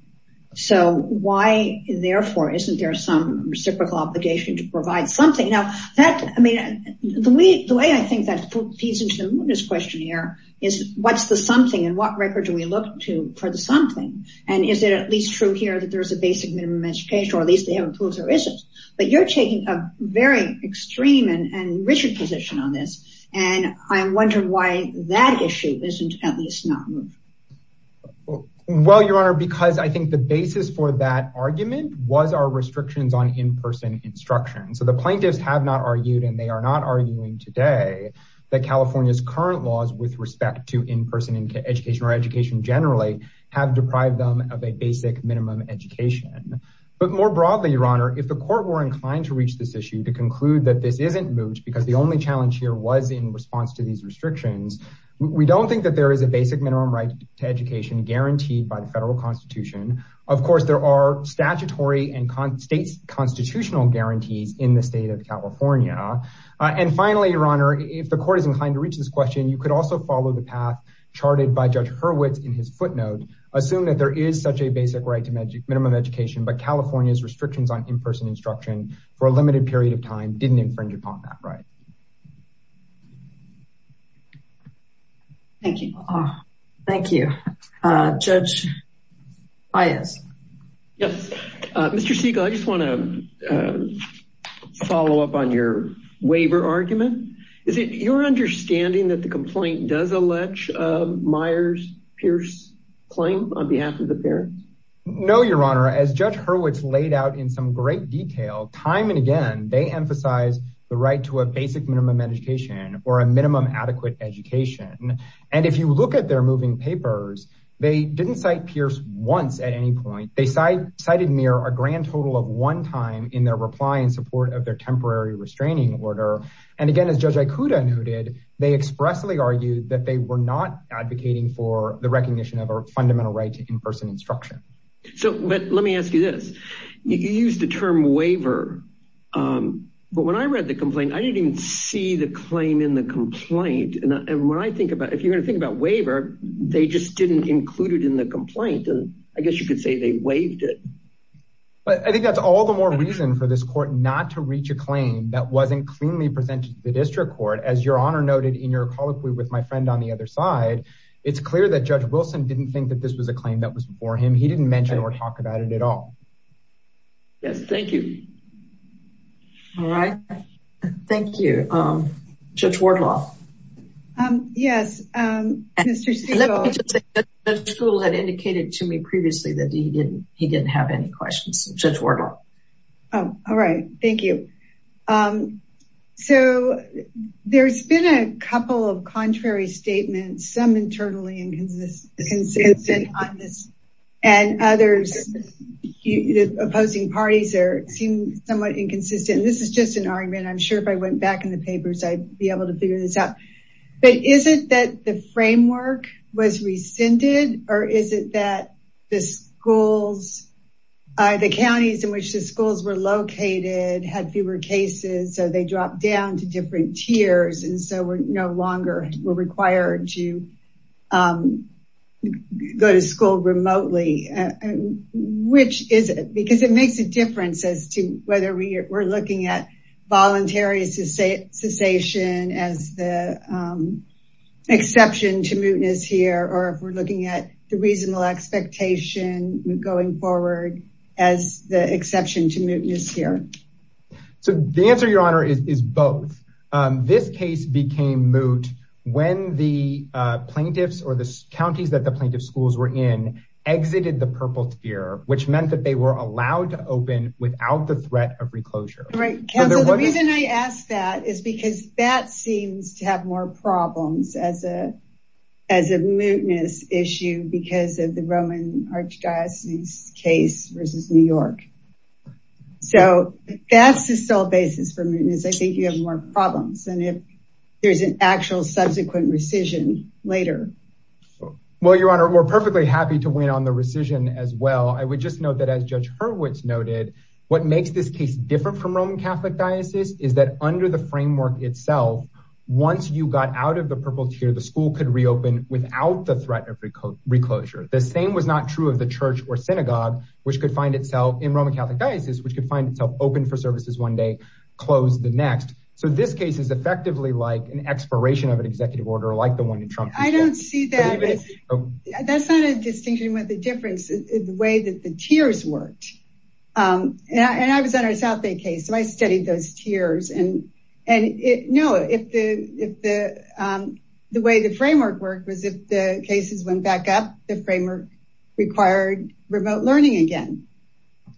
So why, therefore, isn't there some reciprocal obligation to provide something? Now, the way I think that feeds into the mootness question here is, what's the something, and what record do we look to for the something? And is it at least true here that there's a basic minimum education, or at least they haven't proved there isn't? But you're taking a very extreme and rigid position on this, and I'm wondering why that issue isn't at least not moot. Well, Your Honor, because I think the basis for that argument was our restrictions on in-person instruction. So the plaintiffs have not argued, and they are not arguing today, that California's current laws with respect to in-person education, or education generally, have deprived them of a basic minimum education. But more broadly, Your Honor, if the court were inclined to reach this issue, to conclude that this isn't moot, because the only challenge here was in response to these restrictions, we don't think that there is a basic minimum right to education guaranteed by the federal constitution. Of course, there are statutory and state constitutional guarantees in the state of California. And finally, Your Honor, if the court is inclined to reach this question, you could also follow the path charted by Judge Hurwitz in his footnote, assume that there is such a basic right to minimum education, but California's restrictions on in-person instruction for a limited period of time. Thank you. Thank you. Judge Ayas. Yes. Mr. Siegel, I just want to follow up on your waiver argument. Is it your understanding that the complaint does allege Myers-Pierce claim on behalf of the parents? No, Your Honor. As Judge Hurwitz laid out in some great detail, time and again, they emphasize the right to a basic minimum education or a minimum adequate education. And if you look at their moving papers, they didn't cite Pierce once at any point. They cited mere a grand total of one time in their reply in support of their temporary restraining order. And again, as Judge Ikuda noted, they expressly argued that they were not advocating for the recognition of a fundamental right to in-person instruction. So let me ask you this. You used the term waiver. But when I read the complaint, I didn't even see the claim in the complaint. And when I think about if you're going to think about waiver, they just didn't include it in the complaint. And I guess you could say they waived it. But I think that's all the more reason for this court not to reach a claim that wasn't cleanly presented to the district court. As Your Honor noted in your colloquy with my friend on the other side, it's clear that Judge Wilson didn't think that this was a claim that was for him. He didn't mention or talk about it at all. Yes. Thank you. All right. Thank you. Judge Wardlaw. Yes. Mr. Stegall. Judge Stegall had indicated to me previously that he didn't have any questions. Judge Wardlaw. All right. Thank you. So there's been a couple of contrary statements, some internally inconsistent on this. And others, the opposing parties seem somewhat inconsistent. This is just an argument. I'm sure if I went back in the papers, I'd be able to figure this out. But is it that the framework was rescinded? Or is it that the counties in which the schools were located had fewer cases, so they dropped down to different tiers, and so we're no longer required to go to school remotely? Which is it? Because it makes a difference as to whether we're looking at voluntary cessation as the exception to mootness here, or if we're looking at the reasonable expectation going forward as the exception to mootness here. So the answer, Your Honor, is both. This case became moot when the plaintiffs or the counties that the plaintiff schools were in exited the purple tier, which meant that they were allowed to open without the threat of reclosure. Right. Counsel, the reason I ask that is because that seems to have more problems as a mootness issue because of the Roman Archdiocese case versus New York. So that's the sole basis for mootness. I think you have more problems than if there's an actual subsequent rescission later. Well, Your Honor, we're perfectly happy to win on the rescission as well. I would just note that as Judge Hurwitz noted, what makes this case different from Roman Catholic Diocese is that under the framework itself, once you got out of the purple tier, the school could reopen without the threat of reclosure. The same was not true of the church or synagogue, which could find itself in Roman Catholic Diocese, which could find itself open for services one day, close the next. So this case is effectively like an expiration of an executive order like the one in Trump. I don't see that. That's not a distinction with the difference in the way that the tiers worked. And I was on a South Bay case, so I studied those tiers. And no, the way the framework worked was if the cases went back up, the framework required remote learning again.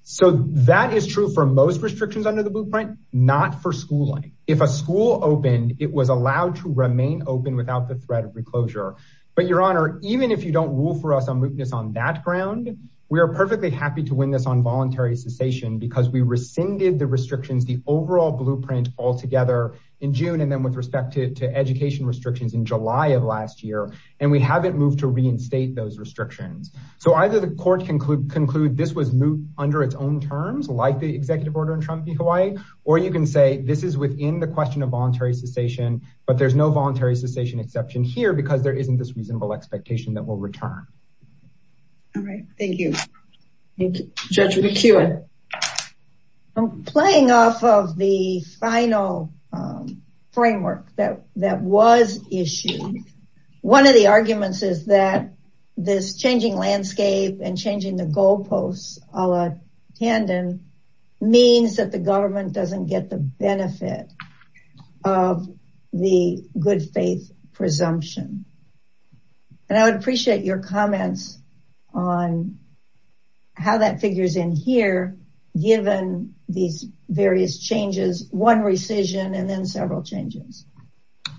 So that is true for most restrictions under the blueprint, not for schooling. If a school opened, it was allowed to remain open without the threat of reclosure. But, Your Honor, even if you don't rule for us on mootness on that ground, we are perfectly happy to win this on voluntary cessation because we rescinded the restrictions, the overall blueprint altogether in June, and then with respect to education restrictions in July of last year, and we haven't moved to reinstate those restrictions. So either the court can conclude this was moot under its own terms, like the executive order in Trump v. Hawaii, or you can say this is within the question of voluntary cessation, but there's no voluntary cessation exception here because there isn't this reasonable expectation that we'll return. All right. Thank you. Judge McKeown. I'm playing off of the final framework that was issued. One of the arguments is that this changing landscape and changing the goalposts a la Tandon means that the government doesn't get the benefit of the good faith presumption. And I would appreciate your comments on how that figures in here, given these various changes, one rescission and then several changes.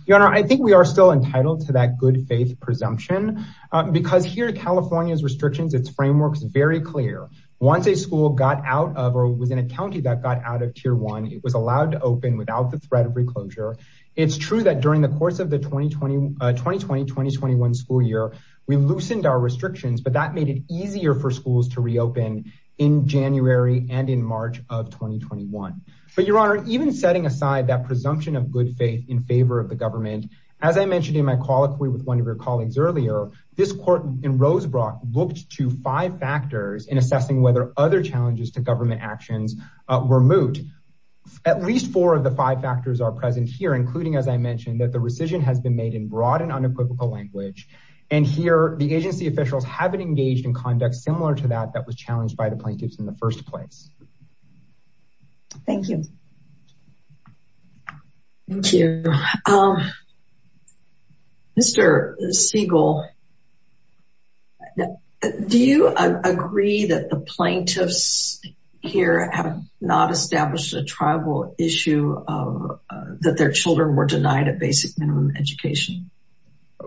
Your Honor, I think we are still entitled to that good faith presumption because here in California's restrictions, its framework is very clear. Once a school got out of or was in a county that got out of tier one, it was allowed to open without the threat of reclosure. It's true that during the course of the 2020-2021 school year, we loosened our restrictions, but that made it easier for schools to reopen in January and in March of 2021. But Your Honor, even setting aside that presumption of good faith in favor of the government, as I mentioned in my colloquy with one of your colleagues earlier, this court in Rosebrook looked to five factors in assessing whether other challenges to government actions were moot. At least four of the five factors are present here, including, as I mentioned, that the rescission has been made in broad and unequivocal language. And here the agency officials have been engaged in conduct similar to that that was challenged by the plaintiffs in the first place. Thank you. Thank you. Mr. Siegel, do you agree that the plaintiffs here have not established a tribal issue that their children were denied a basic minimum education?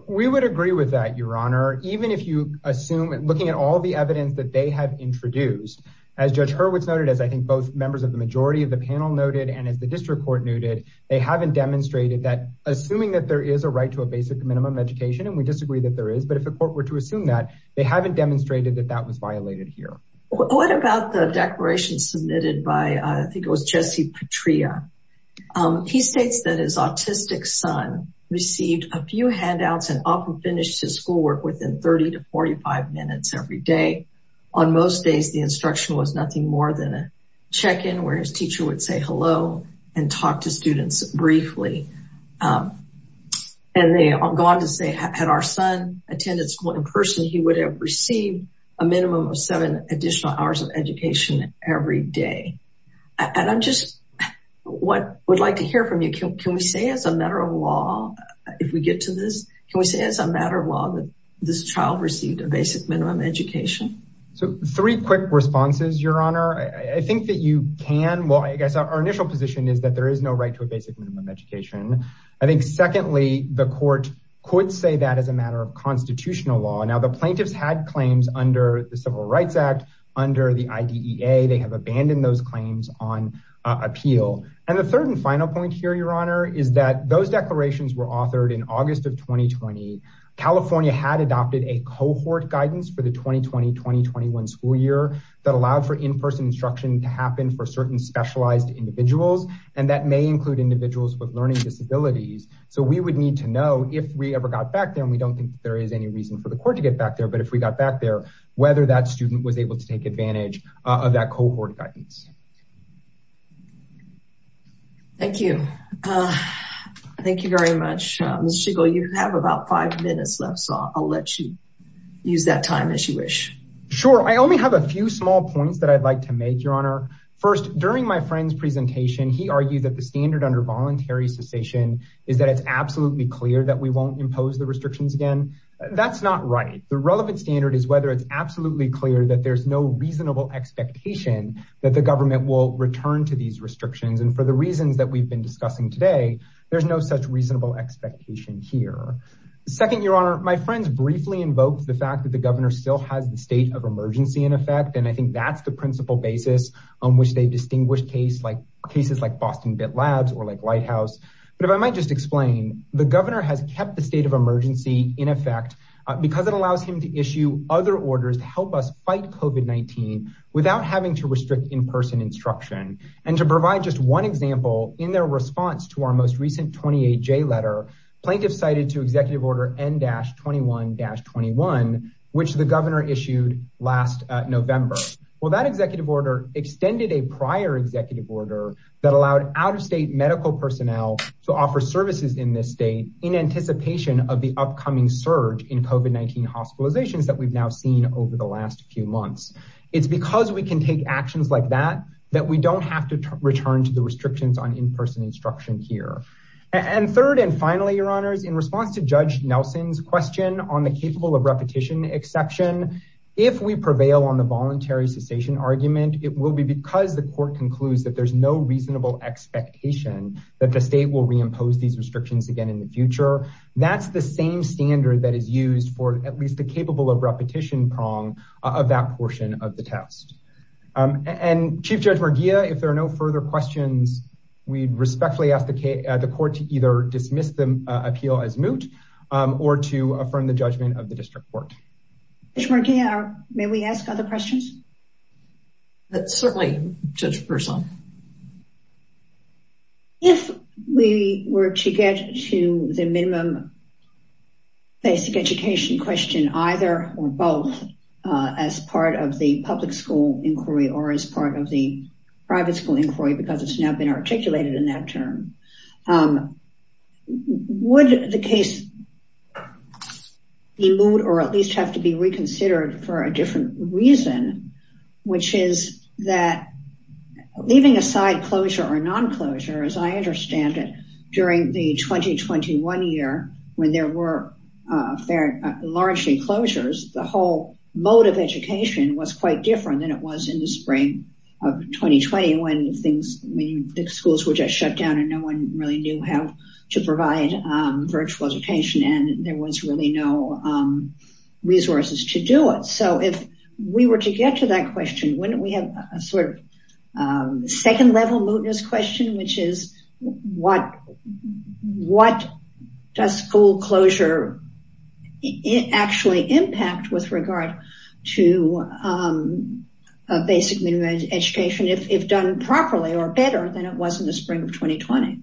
We would agree with that, Your Honor. Even if you assume, looking at all the evidence that they have introduced, as Judge Hurwitz noted, as I think both members of the majority of the panel noted, and as the district court noted, they haven't demonstrated that assuming that there is a right to a basic minimum education, and we disagree that there is, but if the court were to assume that, they haven't demonstrated that that was violated here. What about the declaration submitted by, I think it was Jesse Patria. He states that his autistic son received a few handouts and often finished his schoolwork within 30 to 45 minutes every day. On most days, the instruction was nothing more than a check-in where his teacher would say hello and talk to students briefly. And they go on to say, had our son attended school in person, he would have received a minimum of seven additional hours of education every day. And I'm just, what I would like to hear from you, can we say as a matter of law, if we get to this, can we say as a matter of law that this child received a basic minimum education? So three quick responses, your honor. I think that you can, well, I guess our initial position is that there is no right to a basic minimum education. I think secondly, the court could say that as a matter of constitutional law. Now the plaintiffs had claims under the Civil Rights Act, under the IDEA, they have abandoned those claims on appeal. And the third and final point here, your honor, is that those declarations were authored in August of 2020. California had adopted a cohort guidance for the 2020-2021 school year that allowed for in-person instruction to happen for certain specialized individuals. And that may include individuals with learning disabilities. So we would need to know if we ever got back there, and we don't think there is any reason for the court to get back there, but if we got back there, whether that student was able to take advantage of that cohort guidance. Thank you. Thank you very much. Ms. Schiegel, you have about five minutes left, so I'll let you use that time as you wish. Sure. I only have a few small points that I'd like to make, your honor. First, during my friend's presentation, he argued that the standard under voluntary cessation is that it's absolutely clear that we won't impose the restrictions again. That's not right. The relevant standard is whether it's absolutely clear that there's no reasonable expectation that the government will return to these restrictions. And for the reasons that we've been discussing today, there's no such expectation here. Second, your honor, my friends briefly invoked the fact that the governor still has the state of emergency in effect. And I think that's the principal basis on which they distinguish cases like Boston Bit Labs or like Lighthouse. But if I might just explain, the governor has kept the state of emergency in effect because it allows him to issue other orders to help us fight COVID-19 without having to restrict in-person instruction. And to provide just one letter, plaintiff cited to executive order N-21-21, which the governor issued last November. Well, that executive order extended a prior executive order that allowed out of state medical personnel to offer services in this state in anticipation of the upcoming surge in COVID-19 hospitalizations that we've now seen over the last few months. It's because we can take actions like that, that we don't have to return to the restrictions on in-person instruction here. And third, and finally, your honors, in response to Judge Nelson's question on the capable of repetition exception, if we prevail on the voluntary cessation argument, it will be because the court concludes that there's no reasonable expectation that the state will reimpose these restrictions again in the future. That's the same standard that is used for at least the capable of repetition prong of that portion of the test. And Chief Judge Merguia, if there are no further questions, we'd respectfully ask the court to either dismiss the appeal as moot or to affirm the judgment of the district court. Judge Merguia, may we ask other questions? Certainly, Judge Burson. If we were to get to the minimum basic education question either or both as part of the public school inquiry or as part of the public school inquiry, because it's now been articulated in that term, would the case be moot or at least have to be reconsidered for a different reason, which is that leaving aside closure or non-closure, as I understand it, during the 2021 year, when there were largely closures, the whole mode of education was quite different than it was in the spring of 2020 when the schools were just shut down and no one really knew how to provide virtual education and there was really no resources to do it. So if we were to get to that question, wouldn't we have a sort of second level mootness question, which is what does school closure actually impact with regard to basic minimum education if done properly or better than it was in the spring of 2020?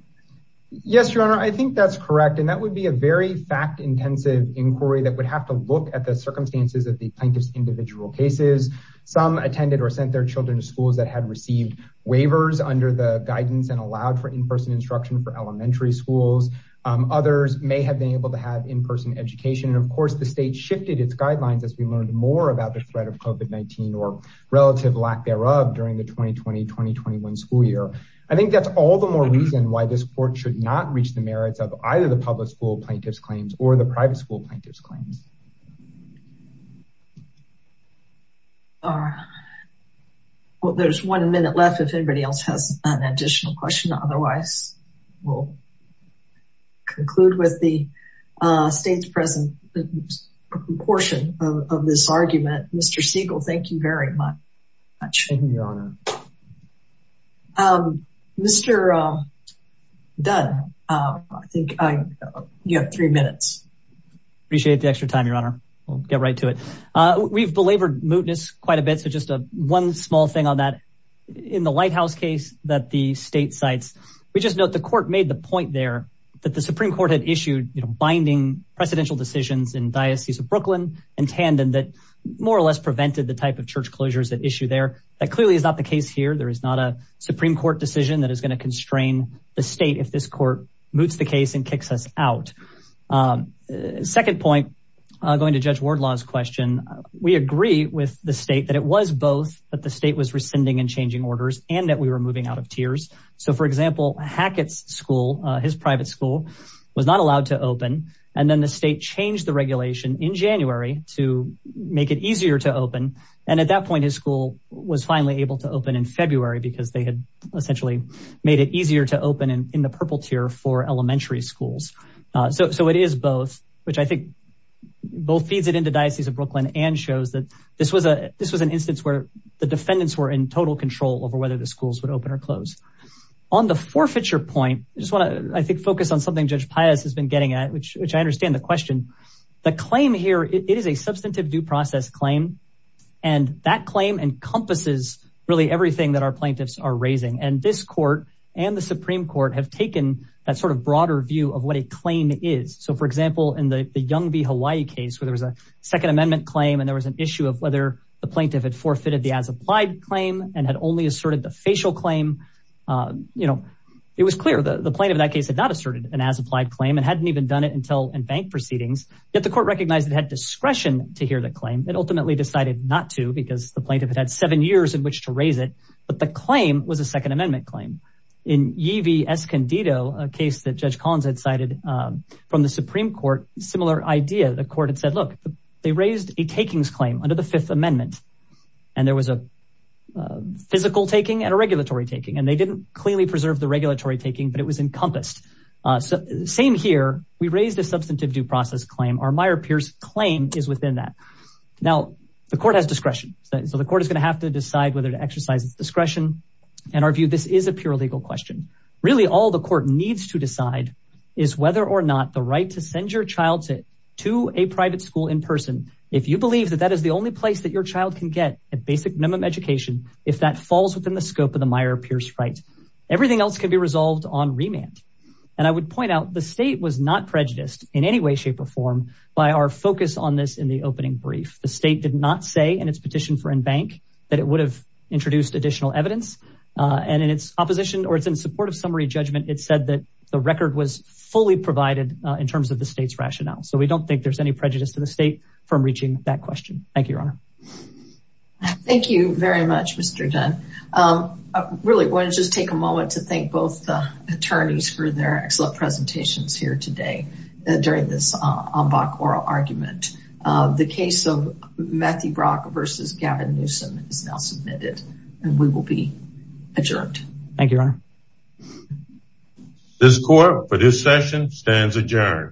Yes, Your Honor, I think that's correct and that would be a very fact-intensive inquiry that would have to look at the circumstances of the plaintiff's individual cases. Some attended or sent their children to schools that had received waivers under the guidance and allowed for in-person instruction for elementary schools. Others may have been able to have in-person education and the state shifted its guidelines as we learned more about the threat of COVID-19 or relative lack thereof during the 2020-2021 school year. I think that's all the more reason why this court should not reach the merits of either the public school plaintiff's claims or the private school plaintiff's claims. There's one minute left if anybody else has an additional question. Otherwise, we'll conclude with the state's present portion of this argument. Mr. Siegel, thank you very much. Thank you, Your Honor. Mr. Dunn, I think you have three minutes. Appreciate the extra time, Your Honor. We'll get right to it. We've belabored mootness quite a bit, just one small thing on that. In the Lighthouse case that the state cites, we just note the court made the point there that the Supreme Court had issued binding presidential decisions in Diocese of Brooklyn and Tandon that more or less prevented the type of church closures that issue there. That clearly is not the case here. There is not a Supreme Court decision that is going to constrain the state if this court moots the case and kicks us out. Second point, going to Judge Wardlaw's question, we agree with the state that it was both that the state was rescinding and changing orders and that we were moving out of tiers. For example, Hackett's private school was not allowed to open. Then the state changed the regulation in January to make it easier to open. At that point, his school was finally able to open in February because they had essentially made it easier to open in the purple tier for elementary schools. It is both, which I think both feeds it into Diocese of Brooklyn and shows that this was an instance where the defendants were in total control over whether the schools would open or close. On the forfeiture point, I just want to, I think, focus on something Judge Pius has been getting at, which I understand the question. The claim here, it is a substantive due process claim, and that claim encompasses really everything that our plaintiffs are raising. This court and the Supreme Court have taken that sort of broader view of what a claim is. For example, in the Young v. Hawaii case, where there was a Second Amendment claim and there was an issue of whether the plaintiff had forfeited the as-applied claim and had only asserted the facial claim, it was clear that the plaintiff in that case had not asserted an as-applied claim and hadn't even done it until in bank proceedings. Yet the court recognized it had discretion to hear the claim. It ultimately decided not to because the plaintiff had had seven years in which to raise it, but the claim was a Second Amendment claim. In Yee v. Escondido, a case that Judge Pius and the Supreme Court had a similar idea. The court had said, look, they raised a takings claim under the Fifth Amendment, and there was a physical taking and a regulatory taking, and they didn't clearly preserve the regulatory taking, but it was encompassed. Same here, we raised a substantive due process claim. Our Meyer-Pierce claim is within that. Now, the court has discretion, so the court is going to have to decide whether to exercise its discretion. In our view, this is a pure legal question. Really, all the court needs to decide is whether or not the right to send your child to a private school in person, if you believe that that is the only place that your child can get a basic minimum education, if that falls within the scope of the Meyer-Pierce right. Everything else can be resolved on remand. And I would point out, the state was not prejudiced in any way, shape, or form by our focus on this in the opening brief. The state did not say in its petition for in bank that it would have introduced additional evidence, and in its opposition, or it's in support of summary judgment, it said that the record was fully provided in terms of the state's rationale. So we don't think there's any prejudice to the state from reaching that question. Thank you, Your Honor. Thank you very much, Mr. Dunn. I really want to just take a moment to thank both the attorneys for their excellent presentations here today during this en banc oral argument. The case of Matthew Brock versus Gavin Newsom is now submitted, and we will be adjourned. Thank you, Your Honor. This court for this session stands adjourned.